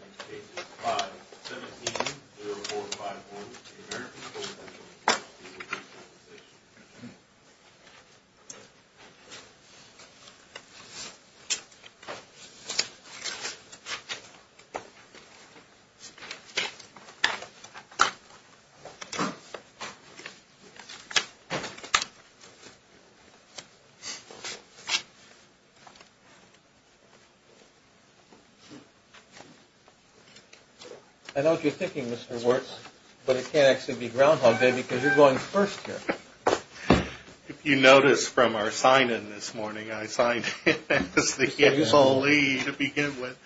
Next case is 517-0451, the American Coal Company v. The Workers' Compensation Commission I know what you're thinking, Mr. Wirtz, but it can't actually be Groundhog Day because you're going first here. If you notice from our sign-in this morning, I signed in as the info lead to begin with.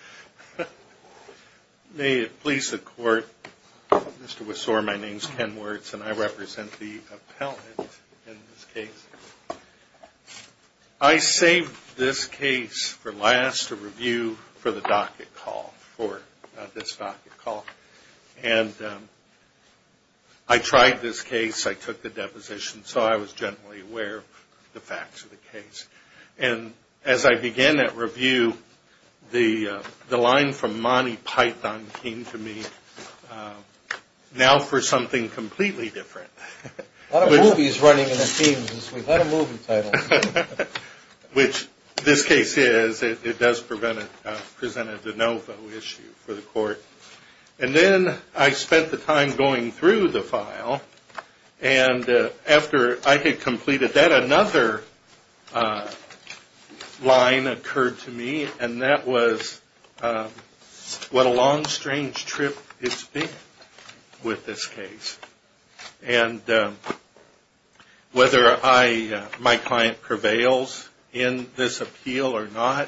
May it please the Court, Mr. Wissor, my name is Ken Wirtz and I represent the appellant in this case. I saved this case for last to review for the docket call, for this docket call. And I tried this case, I took the deposition, so I was generally aware of the facts of the case. And as I began that review, the line from Monty Python came to me, now for something completely different. A lot of movies running in the themes this week, a lot of movie titles. Which this case is, it does present a de novo issue for the Court. And then I spent the time going through the file, and after I had completed that, another line occurred to me, and that was, what a long, strange trip it's been with this case. And whether my client prevails in this appeal or not,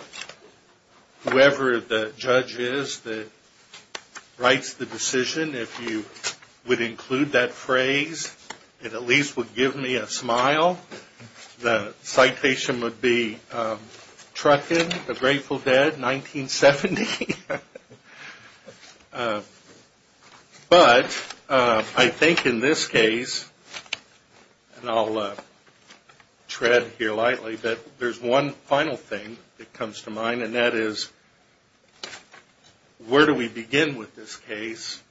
whoever the judge is that writes the decision, if you would include that phrase, it at least would give me a smile. The citation would be, Truckin, the Grateful Dead, 1970. But I think in this case, and I'll tread here lightly, that there's one final thing that comes to mind, and that is, where do we begin with this case?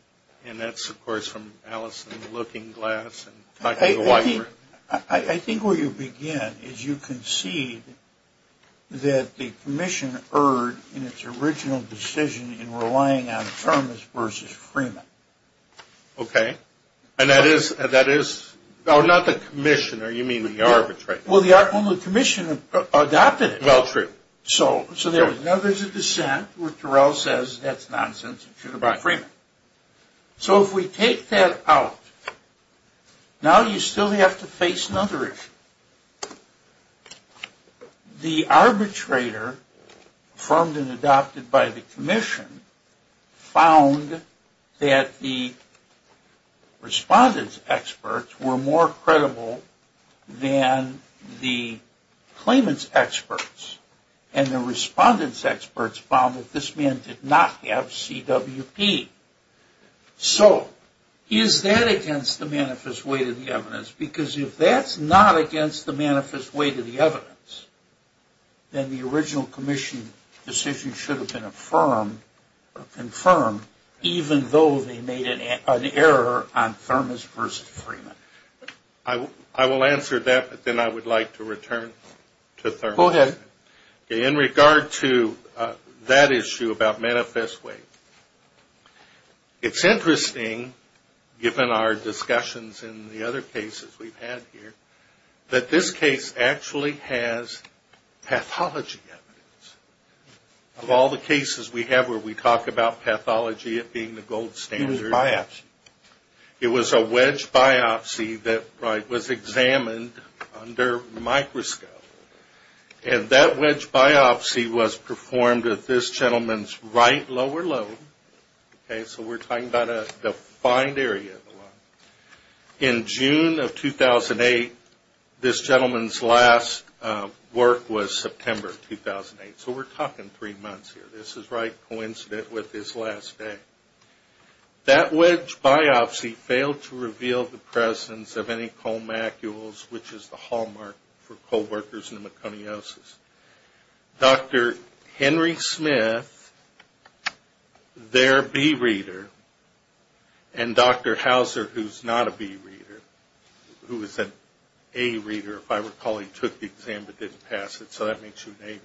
And that's, of course, from Allison Looking Glass. I think where you begin is you concede that the commission erred in its original decision in relying on Thomas versus Freeman. Okay, and that is? No, not the commission, you mean the arbitrator. Well, the commission adopted it. Well, true. So now there's a dissent where Terrell says, that's nonsense, it should have been Freeman. So if we take that out, now you still have to face another issue. The arbitrator, affirmed and adopted by the commission, found that the respondent's experts were more credible than the claimant's experts, and the respondent's experts found that this man did not have CWP. So is that against the manifest way to the evidence? Because if that's not against the manifest way to the evidence, then the original commission decision should have been confirmed, even though they made an error on Thomas versus Freeman. I will answer that, but then I would like to return to Thomas. Go ahead. In regard to that issue about manifest way, it's interesting given our discussions in the other cases we've had here, that this case actually has pathology evidence. Of all the cases we have where we talk about pathology it being the gold standard. It was a biopsy. It was a biopsy that was examined under microscope. And that wedge biopsy was performed at this gentleman's right lower lobe. So we're talking about a defined area. In June of 2008, this gentleman's last work was September 2008. So we're talking three months here. This is right coincident with his last day. That wedge biopsy failed to reveal the presence of any colmacules, which is the hallmark for co-workers pneumoconiosis. Dr. Henry Smith, their B reader, and Dr. Hauser, who's not a B reader, who is an A reader, if I recall. He took the exam but didn't pass it, so that makes you an A reader.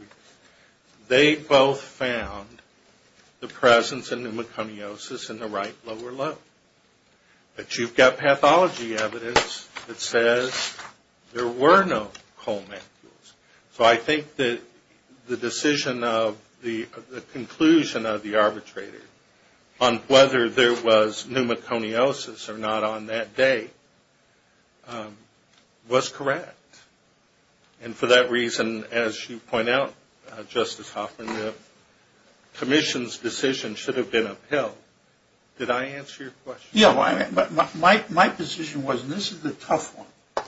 They both found the presence of pneumoconiosis in the right lower lobe. But you've got pathology evidence that says there were no colmacules. So I think that the decision of the conclusion of the arbitrator on whether there was pneumoconiosis or not on that day was correct. And for that reason, as you point out, Justice Hoffman, the commission's decision should have been upheld. Did I answer your question? Yeah. My position was, and this is the tough one,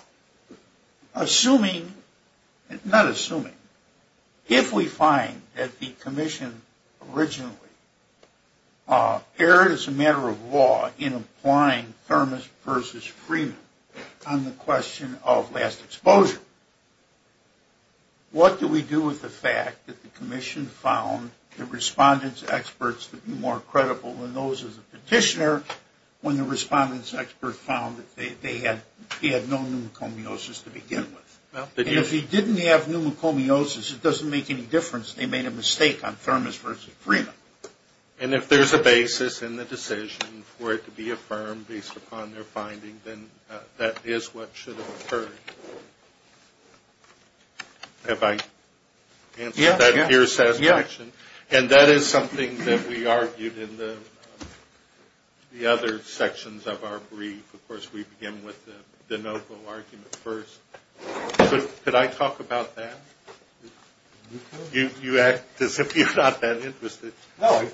assuming, not assuming, if we find that the commission originally erred as a matter of law in applying Thermis versus Freeman on the question of last exposure, what do we do with the fact that the commission found the respondents' experts to be more credible than those as a petitioner when the respondents' experts found that they had no pneumoconiosis to begin with? And if you didn't have pneumoconiosis, it doesn't make any difference. They made a mistake on Thermis versus Freeman. And if there's a basis in the decision for it to be affirmed based upon their finding, then that is what should have occurred. Have I answered that to your satisfaction? Yeah. And that is something that we argued in the other sections of our brief. Of course, we begin with the Novo argument first. Could I talk about that? You act as if you're not that interested. No.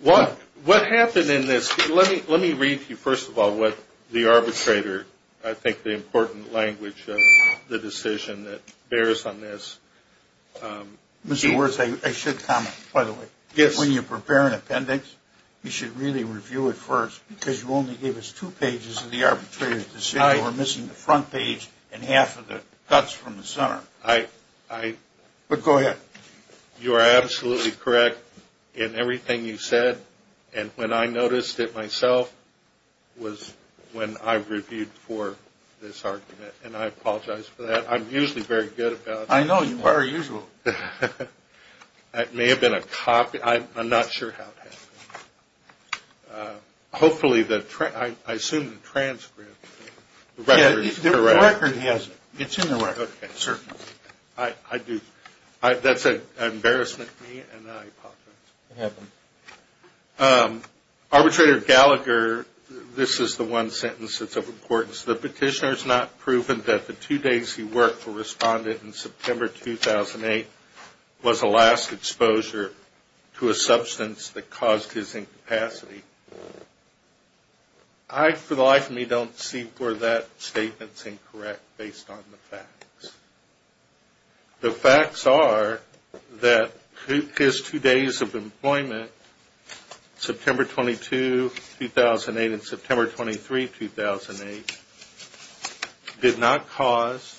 What happened in this? Let me read to you first of all what the arbitrator, I think, the important language of the decision that bears on this. Mr. Wirtz, I should comment, by the way. Yes. When you prepare an appendix, you should really review it first, because you only gave us two pages of the arbitrator's decision. You were missing the front page and half of the guts from the center. But go ahead. You are absolutely correct in everything you said. And when I noticed it myself was when I reviewed for this argument. And I apologize for that. I'm usually very good about that. I know. You're very usual. It may have been a copy. I'm not sure how it happened. Hopefully, I assume the transcript, the record is correct. The record has it. It's in the record. Okay. Certainly. I do. That's an embarrassment to me, and I apologize. It happened. Arbitrator Gallagher, this is the one sentence that's of importance. The petitioner has not proven that the two days he worked for Respondent in capacity. I, for the life of me, don't see where that statement is incorrect based on the facts. The facts are that his two days of employment, September 22, 2008, and September 23, 2008, did not cause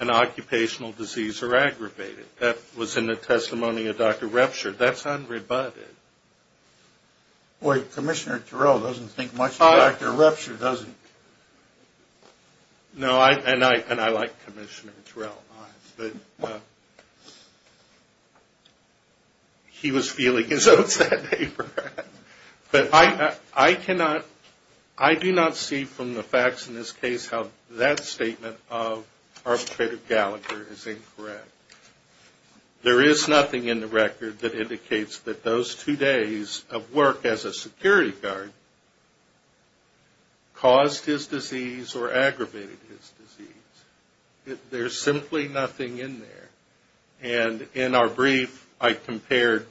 an occupational disease or aggravated. That was in the testimony of Dr. Repsher. That's unrebutted. Commissioner Terrell doesn't think much of Dr. Repsher, does he? No, and I like Commissioner Terrell. All right. He was feeling his oats that day, Brad. But I do not see from the facts in this case how that statement of Arbitrator Gallagher is incorrect. There is nothing in the record that indicates that those two days of work as a security guard caused his disease or aggravated his disease. There's simply nothing in there. And in our brief, I compared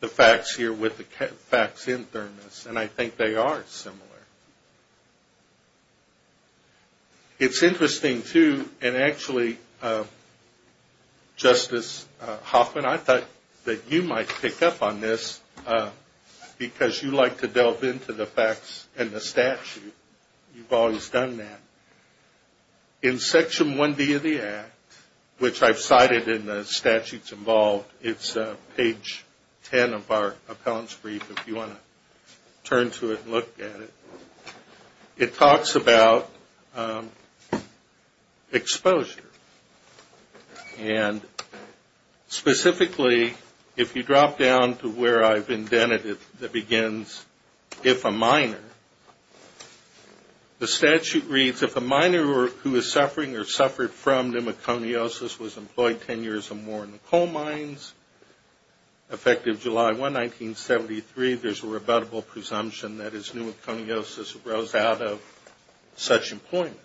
the facts here with the facts in Thermos, and I think they are similar. It's interesting, too, and actually, Justice Hoffman, I thought that you might pick up on this because you like to delve into the facts and the statute. You've always done that. In Section 1B of the Act, which I've cited in the statutes involved, it's page 10 of our appellant's brief if you want to turn to it and look at it. It talks about exposure. And specifically, if you drop down to where I've indented it that begins, if a minor, the statute reads, if a minor who is suffering or suffered from affective July 1, 1973, there's a rebuttable presumption that his pneumoconiosis rose out of such employment.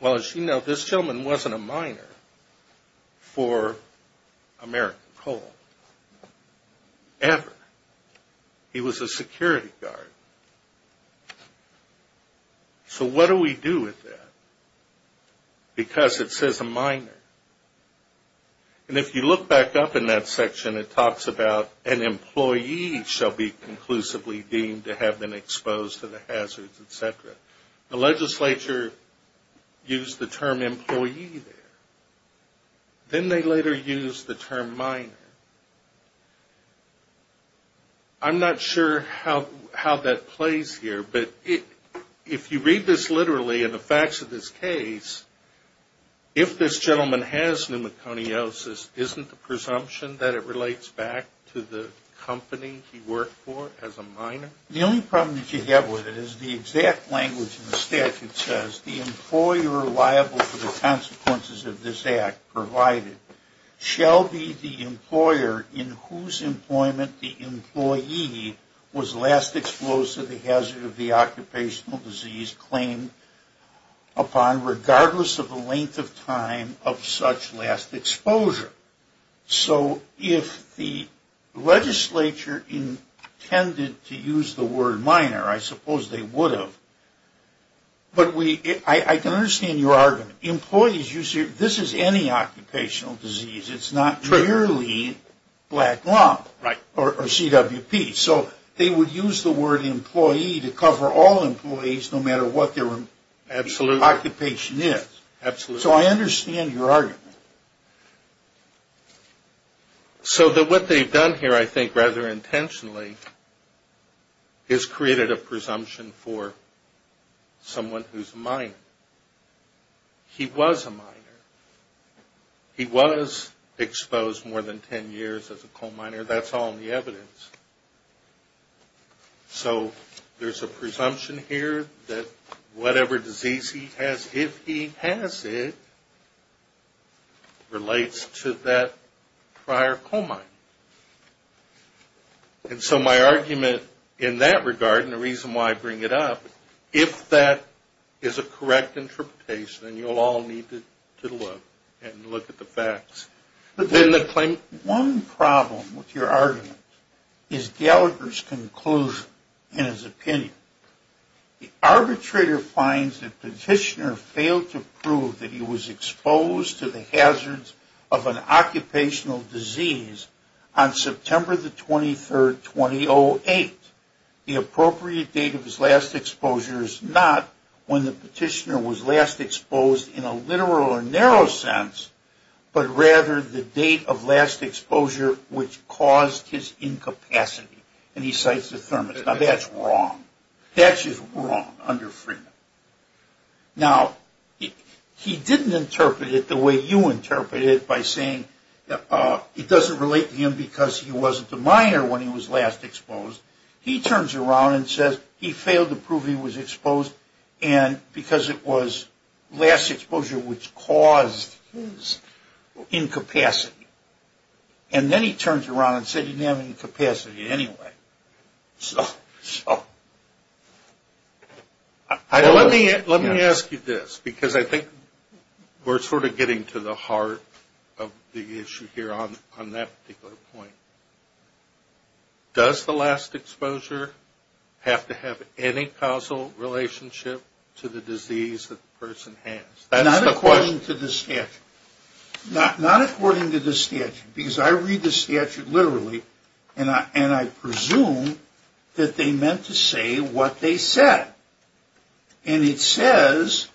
Well, as you know, this gentleman wasn't a minor for American Coal ever. He was a security guard. So what do we do with that? Because it says a minor. And if you look back up in that section, it talks about an employee shall be conclusively deemed to have been exposed to the hazards, et cetera. The legislature used the term employee there. Then they later used the term minor. I'm not sure how that plays here, but if you read this literally in the facts of this case, if this gentleman has pneumoconiosis, isn't the presumption that it relates back to the company he worked for as a minor? The only problem that you have with it is the exact language in the statute says, the employer liable for the consequences of this act provided shall be the employer in whose employment the employee was last exposed to the hazard of the occupational disease claimed upon regardless of the length of time of such last exposure. So if the legislature intended to use the word minor, I suppose they would have. But I can understand your argument. Employees, this is any occupational disease. It's not merely black lung or CWP. So they would use the word employee to cover all employees no matter what their occupation is. So I understand your argument. So what they've done here, I think, rather intentionally, is created a presumption for someone who's a minor. He was a minor. He was exposed more than 10 years as a coal miner. That's all in the evidence. So there's a presumption here that whatever disease he has, if he has it, relates to that prior coal mine. And so my argument in that regard and the reason why I bring it up, if that is a correct interpretation, and you'll all need to look and look at the facts. One problem with your argument is Gallagher's conclusion and his opinion. The arbitrator finds the petitioner failed to prove that he was exposed to the hazards of an occupational disease on September the 23rd, 2008. The appropriate date of his last exposure is not when the petitioner was last exposed, but rather the date of last exposure which caused his incapacity. And he cites the thermist. Now, that's wrong. That's just wrong under Freedom. Now, he didn't interpret it the way you interpreted it by saying it doesn't relate to him because he wasn't a minor when he was last exposed. He turns around and says he failed to prove he was exposed because it was last exposure and incapacity. And then he turns around and says he didn't have any capacity anyway. So I don't know. Let me ask you this because I think we're sort of getting to the heart of the issue here on that particular point. Does the last exposure have to have any causal relationship to the disease that the person has? Not according to the statute. Not according to the statute because I read the statute literally and I presume that they meant to say what they said. And it says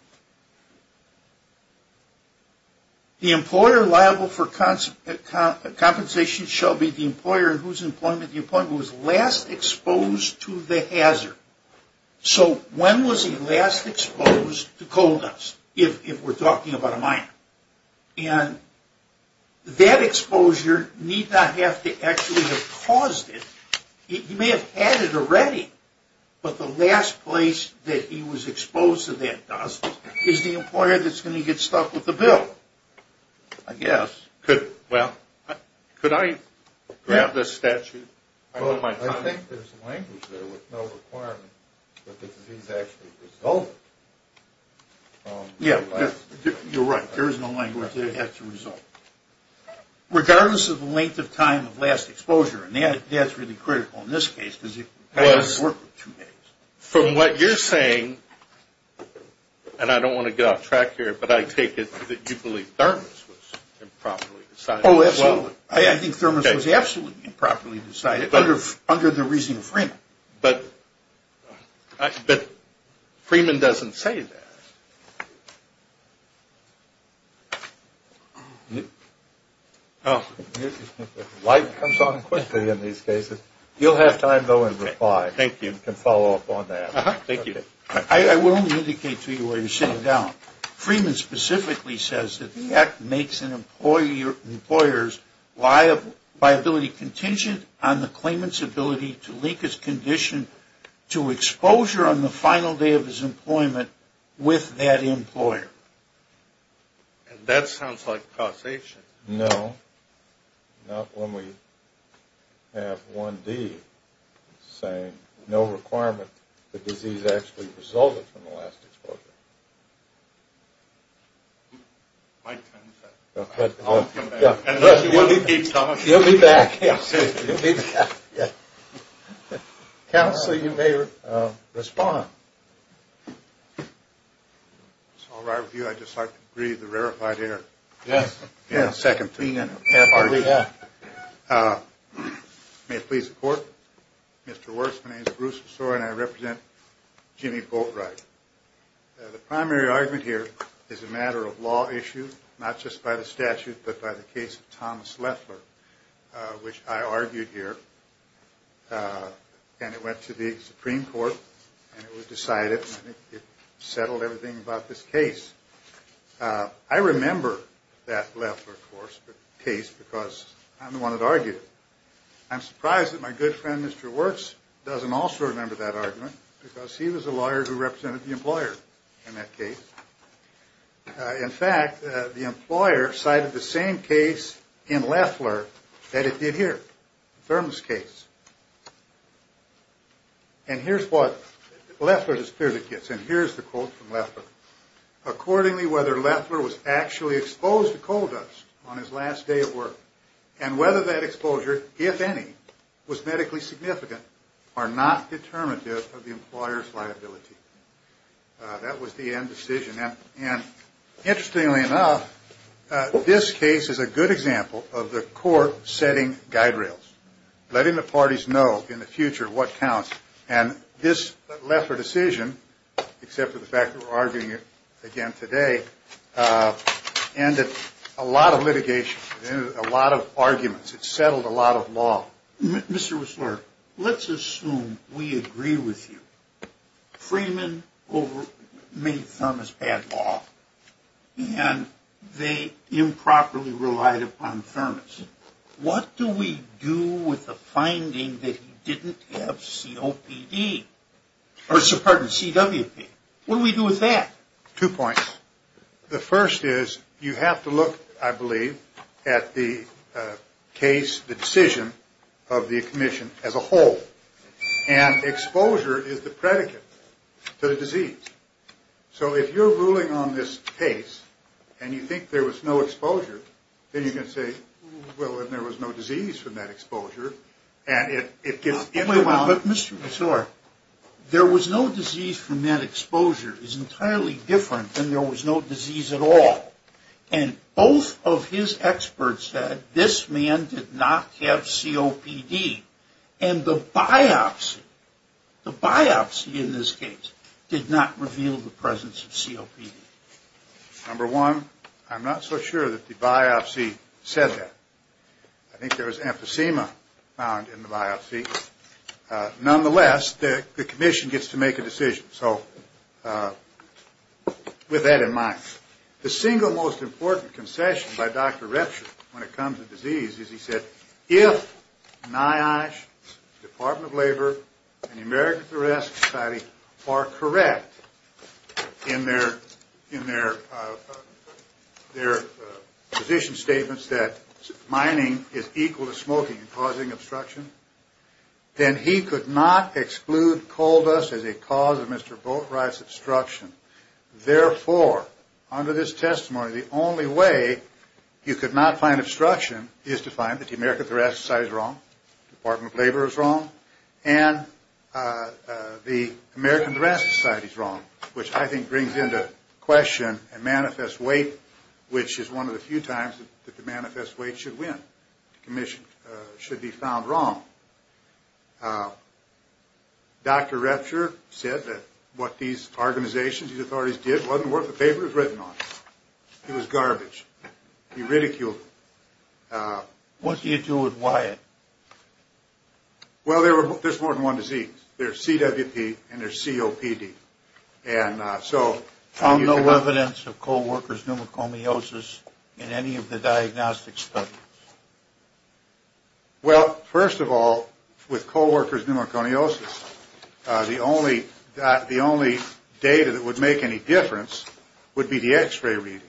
the employer liable for compensation shall be the employer in whose employment the employer was last exposed to the hazard. So when was he last exposed to coal dust if we're talking about a minor? And that exposure need not have to actually have caused it. He may have had it already. But the last place that he was exposed to that dust is the employer that's going to get stuck with the bill. I guess. Well, could I grab the statute? I think there's language there with no requirement that the disease actually result. Yeah, you're right. There is no language that it has to result. Regardless of the length of time of last exposure, and that's really critical in this case because you can't work with two days. From what you're saying, and I don't want to get off track here, but I take it that you believe Thermos was improperly decided. Oh, absolutely. I think Thermos was absolutely improperly decided under the reasoning of Freeman. But Freeman doesn't say that. Life comes on quickly in these cases. You'll have time, though, in reply. Thank you. You can follow up on that. Thank you. I will only indicate to you while you're sitting down, Freeman specifically says that the act makes an employer's liability contingent on the claimant's ability to link his condition to exposure on the final day of his employment with that employer. That sounds like causation. No. Not when we have 1D saying no requirement the disease actually resulted from My time is up. I'll come back. You'll be back. You'll be back. Counselor, you may respond. It's all right with you. I just like to breathe the rarefied air. Yes. May it please the Court. Mr. Wirtz, my name is Bruce Wirtz, and I represent Jimmy Boatwright. The primary argument here is a matter of law issue, not just by the statute, but by the case of Thomas Lethler, which I argued here. And it went to the Supreme Court, and it was decided, and it settled everything about this case. I remember that Lethler case because I'm the one that argued it. I'm surprised that my good friend, Mr. Wirtz, doesn't also remember that argument because he was a lawyer who represented the employer in that case. In fact, the employer cited the same case in Lethler that it did here, the thermos case. And here's what Lethler just clearly gets, and here's the quote from Lethler. Accordingly, whether Lethler was actually exposed to coal dust on his last day of work and whether that exposure, if any, was medically significant, are not determinative of the employer's liability. That was the end decision. And interestingly enough, this case is a good example of the court setting guide rails, letting the parties know in the future what counts. And this Lethler decision, except for the fact that we're arguing it again today, ended a lot of litigation. It ended a lot of arguments. It settled a lot of law. Now, Mr. Wirtzler, let's assume we agree with you. Freeman made thermos bad law, and they improperly relied upon thermos. What do we do with the finding that he didn't have CWP? What do we do with that? Two points. The first is you have to look, I believe, at the case, the decision of the commission as a whole. And exposure is the predicate to the disease. So if you're ruling on this case and you think there was no exposure, then you can say, well, then there was no disease from that exposure. But, Mr. Wirtzler, there was no disease from that exposure is entirely different than there was no disease at all. And both of his experts said this man did not have COPD. And the biopsy, the biopsy in this case, did not reveal the presence of COPD. Number one, I'm not so sure that the biopsy said that. I think there was emphysema found in the biopsy. Nonetheless, the commission gets to make a decision. So with that in mind, the single most important concession by Dr. Retscher when it comes to disease is he said, NIOSH, Department of Labor, and the American Thoracic Society are correct in their position statements that mining is equal to smoking and causing obstruction. Then he could not exclude coal dust as a cause of Mr. Boatwright's obstruction. Therefore, under this testimony, the only way you could not find obstruction is to find that the American Thoracic Society is wrong, Department of Labor is wrong, and the American Thoracic Society is wrong, which I think brings into question a manifest weight, which is one of the few times that the manifest weight should win. The commission should be found wrong. Dr. Retscher said that what these organizations, these authorities did wasn't worth a paper to be written on. It was garbage. He ridiculed them. What do you do with Wyatt? Well, there's more than one disease. There's CWP and there's COPD. And so- Found no evidence of coal workers' pneumocomiosis in any of the diagnostic studies? Well, first of all, with coal workers' pneumocomiosis, the only data that would make any difference would be the x-ray reading.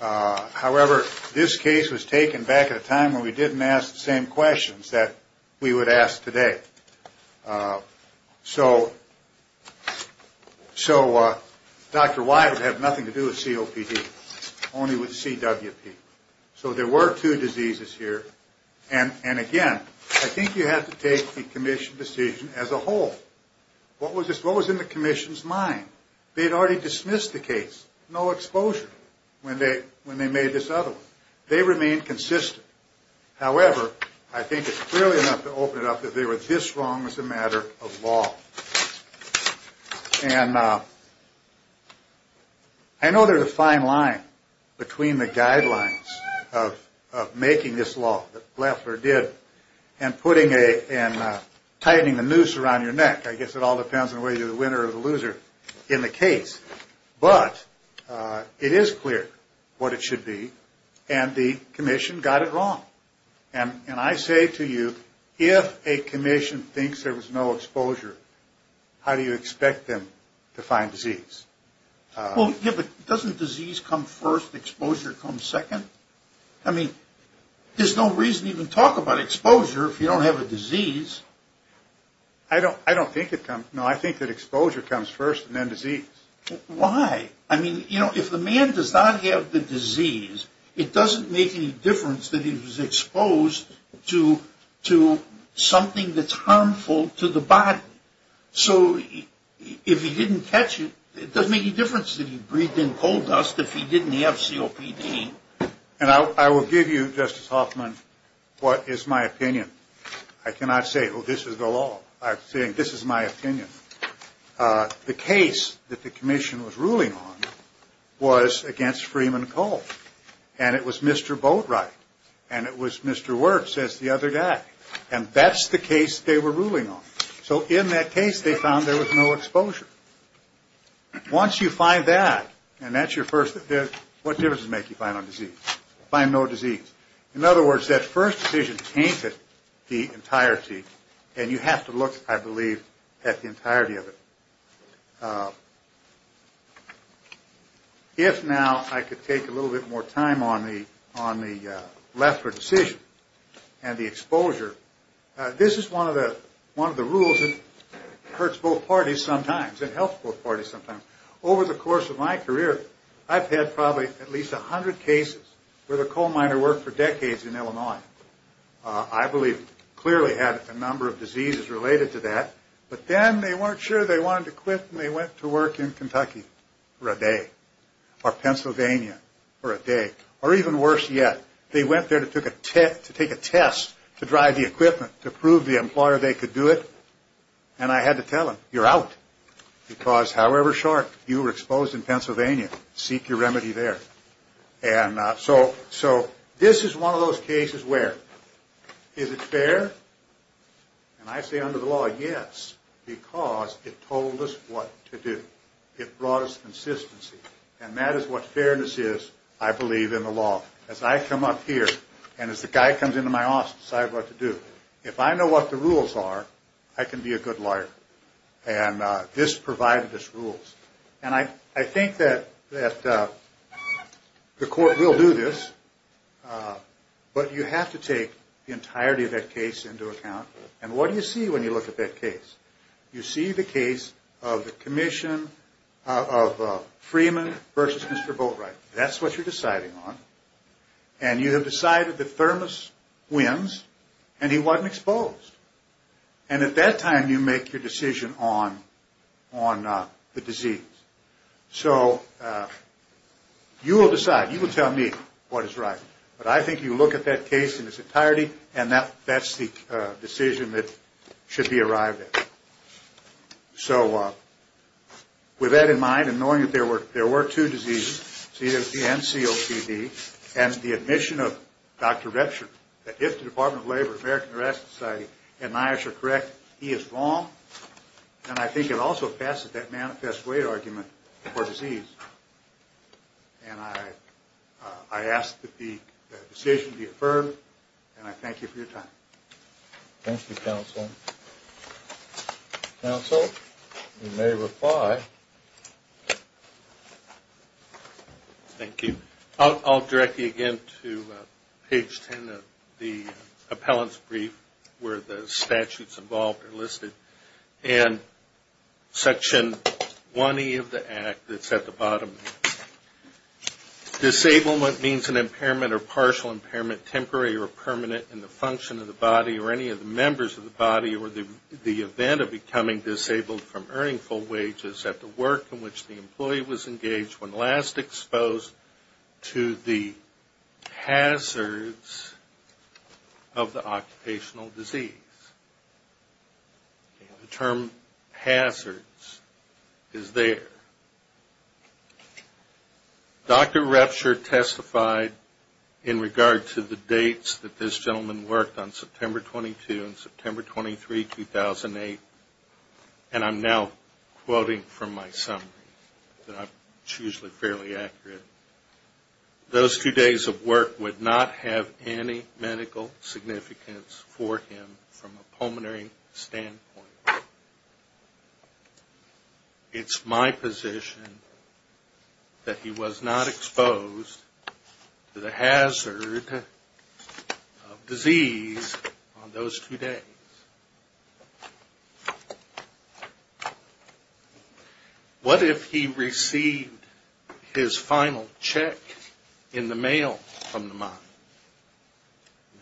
However, this case was taken back at a time when we didn't ask the same questions that we would ask today. So Dr. Wyatt would have nothing to do with COPD, only with CWP. So there were two diseases here. And again, I think you have to take the commission's decision as a whole. What was in the commission's mind? They had already dismissed the case. No exposure when they made this other one. They remained consistent. However, I think it's clearly enough to open it up that they were this wrong as a matter of law. And I know there's a fine line between the guidelines of making this law that Leffler did and putting a- and tightening the noose around your neck. I guess it all depends on whether you're the winner or the loser in the case. But it is clear what it should be. And the commission got it wrong. And I say to you, if a commission thinks there was no exposure, how do you expect them to find disease? Well, yeah, but doesn't disease come first, exposure come second? I mean, there's no reason to even talk about exposure if you don't have a disease. I don't think it comes-no, I think that exposure comes first and then disease. Why? I mean, you know, if the man does not have the disease, it doesn't make any difference that he was exposed to something that's harmful to the body. So if he didn't catch it, it doesn't make any difference that he breathed in coal dust if he didn't have COPD. And I will give you, Justice Hoffman, what is my opinion. I cannot say, oh, this is the law. I'm saying this is my opinion. The case that the commission was ruling on was against Freeman Coal. And it was Mr. Boatwright. And it was Mr. Wertz, as the other guy. And that's the case they were ruling on. So in that case, they found there was no exposure. Once you find that, and that's your first-what difference does it make you find on disease? Find no disease. In other words, that first decision tainted the entirety. And you have to look, I believe, at the entirety of it. If now I could take a little bit more time on the Lefler decision and the exposure. This is one of the rules that hurts both parties sometimes. It helps both parties sometimes. Over the course of my career, I've had probably at least 100 cases where the coal miner worked for decades in Illinois. I believe clearly had a number of diseases related to that. But then they weren't sure they wanted to quit, and they went to work in Kentucky for a day. Or Pennsylvania for a day. Or even worse yet, they went there to take a test to drive the equipment to prove the employer they could do it. And I had to tell them, you're out. Because however short, you were exposed in Pennsylvania. Seek your remedy there. And so this is one of those cases where, is it fair? And I say under the law, yes. Because it told us what to do. It brought us consistency. And that is what fairness is, I believe, in the law. As I come up here, and as the guy comes into my office, I decide what to do. If I know what the rules are, I can be a good lawyer. And this provided us rules. And I think that the court will do this. But you have to take the entirety of that case into account. And what do you see when you look at that case? You see the case of the commission of Freeman versus Mr. Boatwright. That's what you're deciding on. And you have decided the thermos wins, and he wasn't exposed. And at that time, you make your decision on the disease. So you will decide. You will tell me what is right. But I think you look at that case in its entirety, and that's the decision that should be arrived at. So with that in mind, and knowing that there were two diseases, COPD and COPD, and the admission of Dr. Retscher, that if the Department of Labor, American Arrest Society, and NIOSH are correct, he is wrong. And I think it also passes that manifest way argument for disease. And I ask that the decision be affirmed, and I thank you for your time. Thank you, counsel. Counsel, you may reply. Thank you. I'll direct you again to page 10 of the appellant's brief, where the statutes involved are listed, and section 1E of the Act that's at the bottom. Disablement means an impairment or partial impairment, either temporary or permanent in the function of the body or any of the members of the body, or the event of becoming disabled from earning full wages at the work in which the employee was engaged when last exposed to the hazards of the occupational disease. The term hazards is there. Dr. Retscher testified in regard to the dates that this gentleman worked on, September 22 and September 23, 2008, and I'm now quoting from my summary. It's usually fairly accurate. Those two days of work would not have any medical significance for him from a pulmonary standpoint. It's my position that he was not exposed to the hazard of disease on those two days. What if he received his final check in the mail from the mine?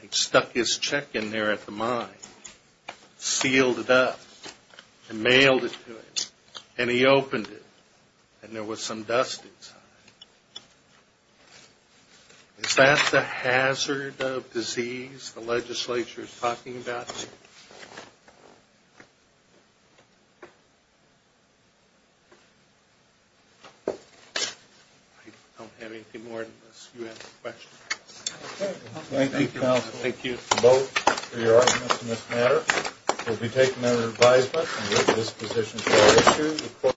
He stuck his check in there at the mine, sealed it up, and mailed it to him, and he opened it, and there was some dust inside. Is that the hazard of disease the legislature is talking about? I don't have anything more unless you have a question. Thank you, counsel. Thank you. Vote for your arguments in this matter. We'll be taking that as advisement and give this position to Dr. Retscher.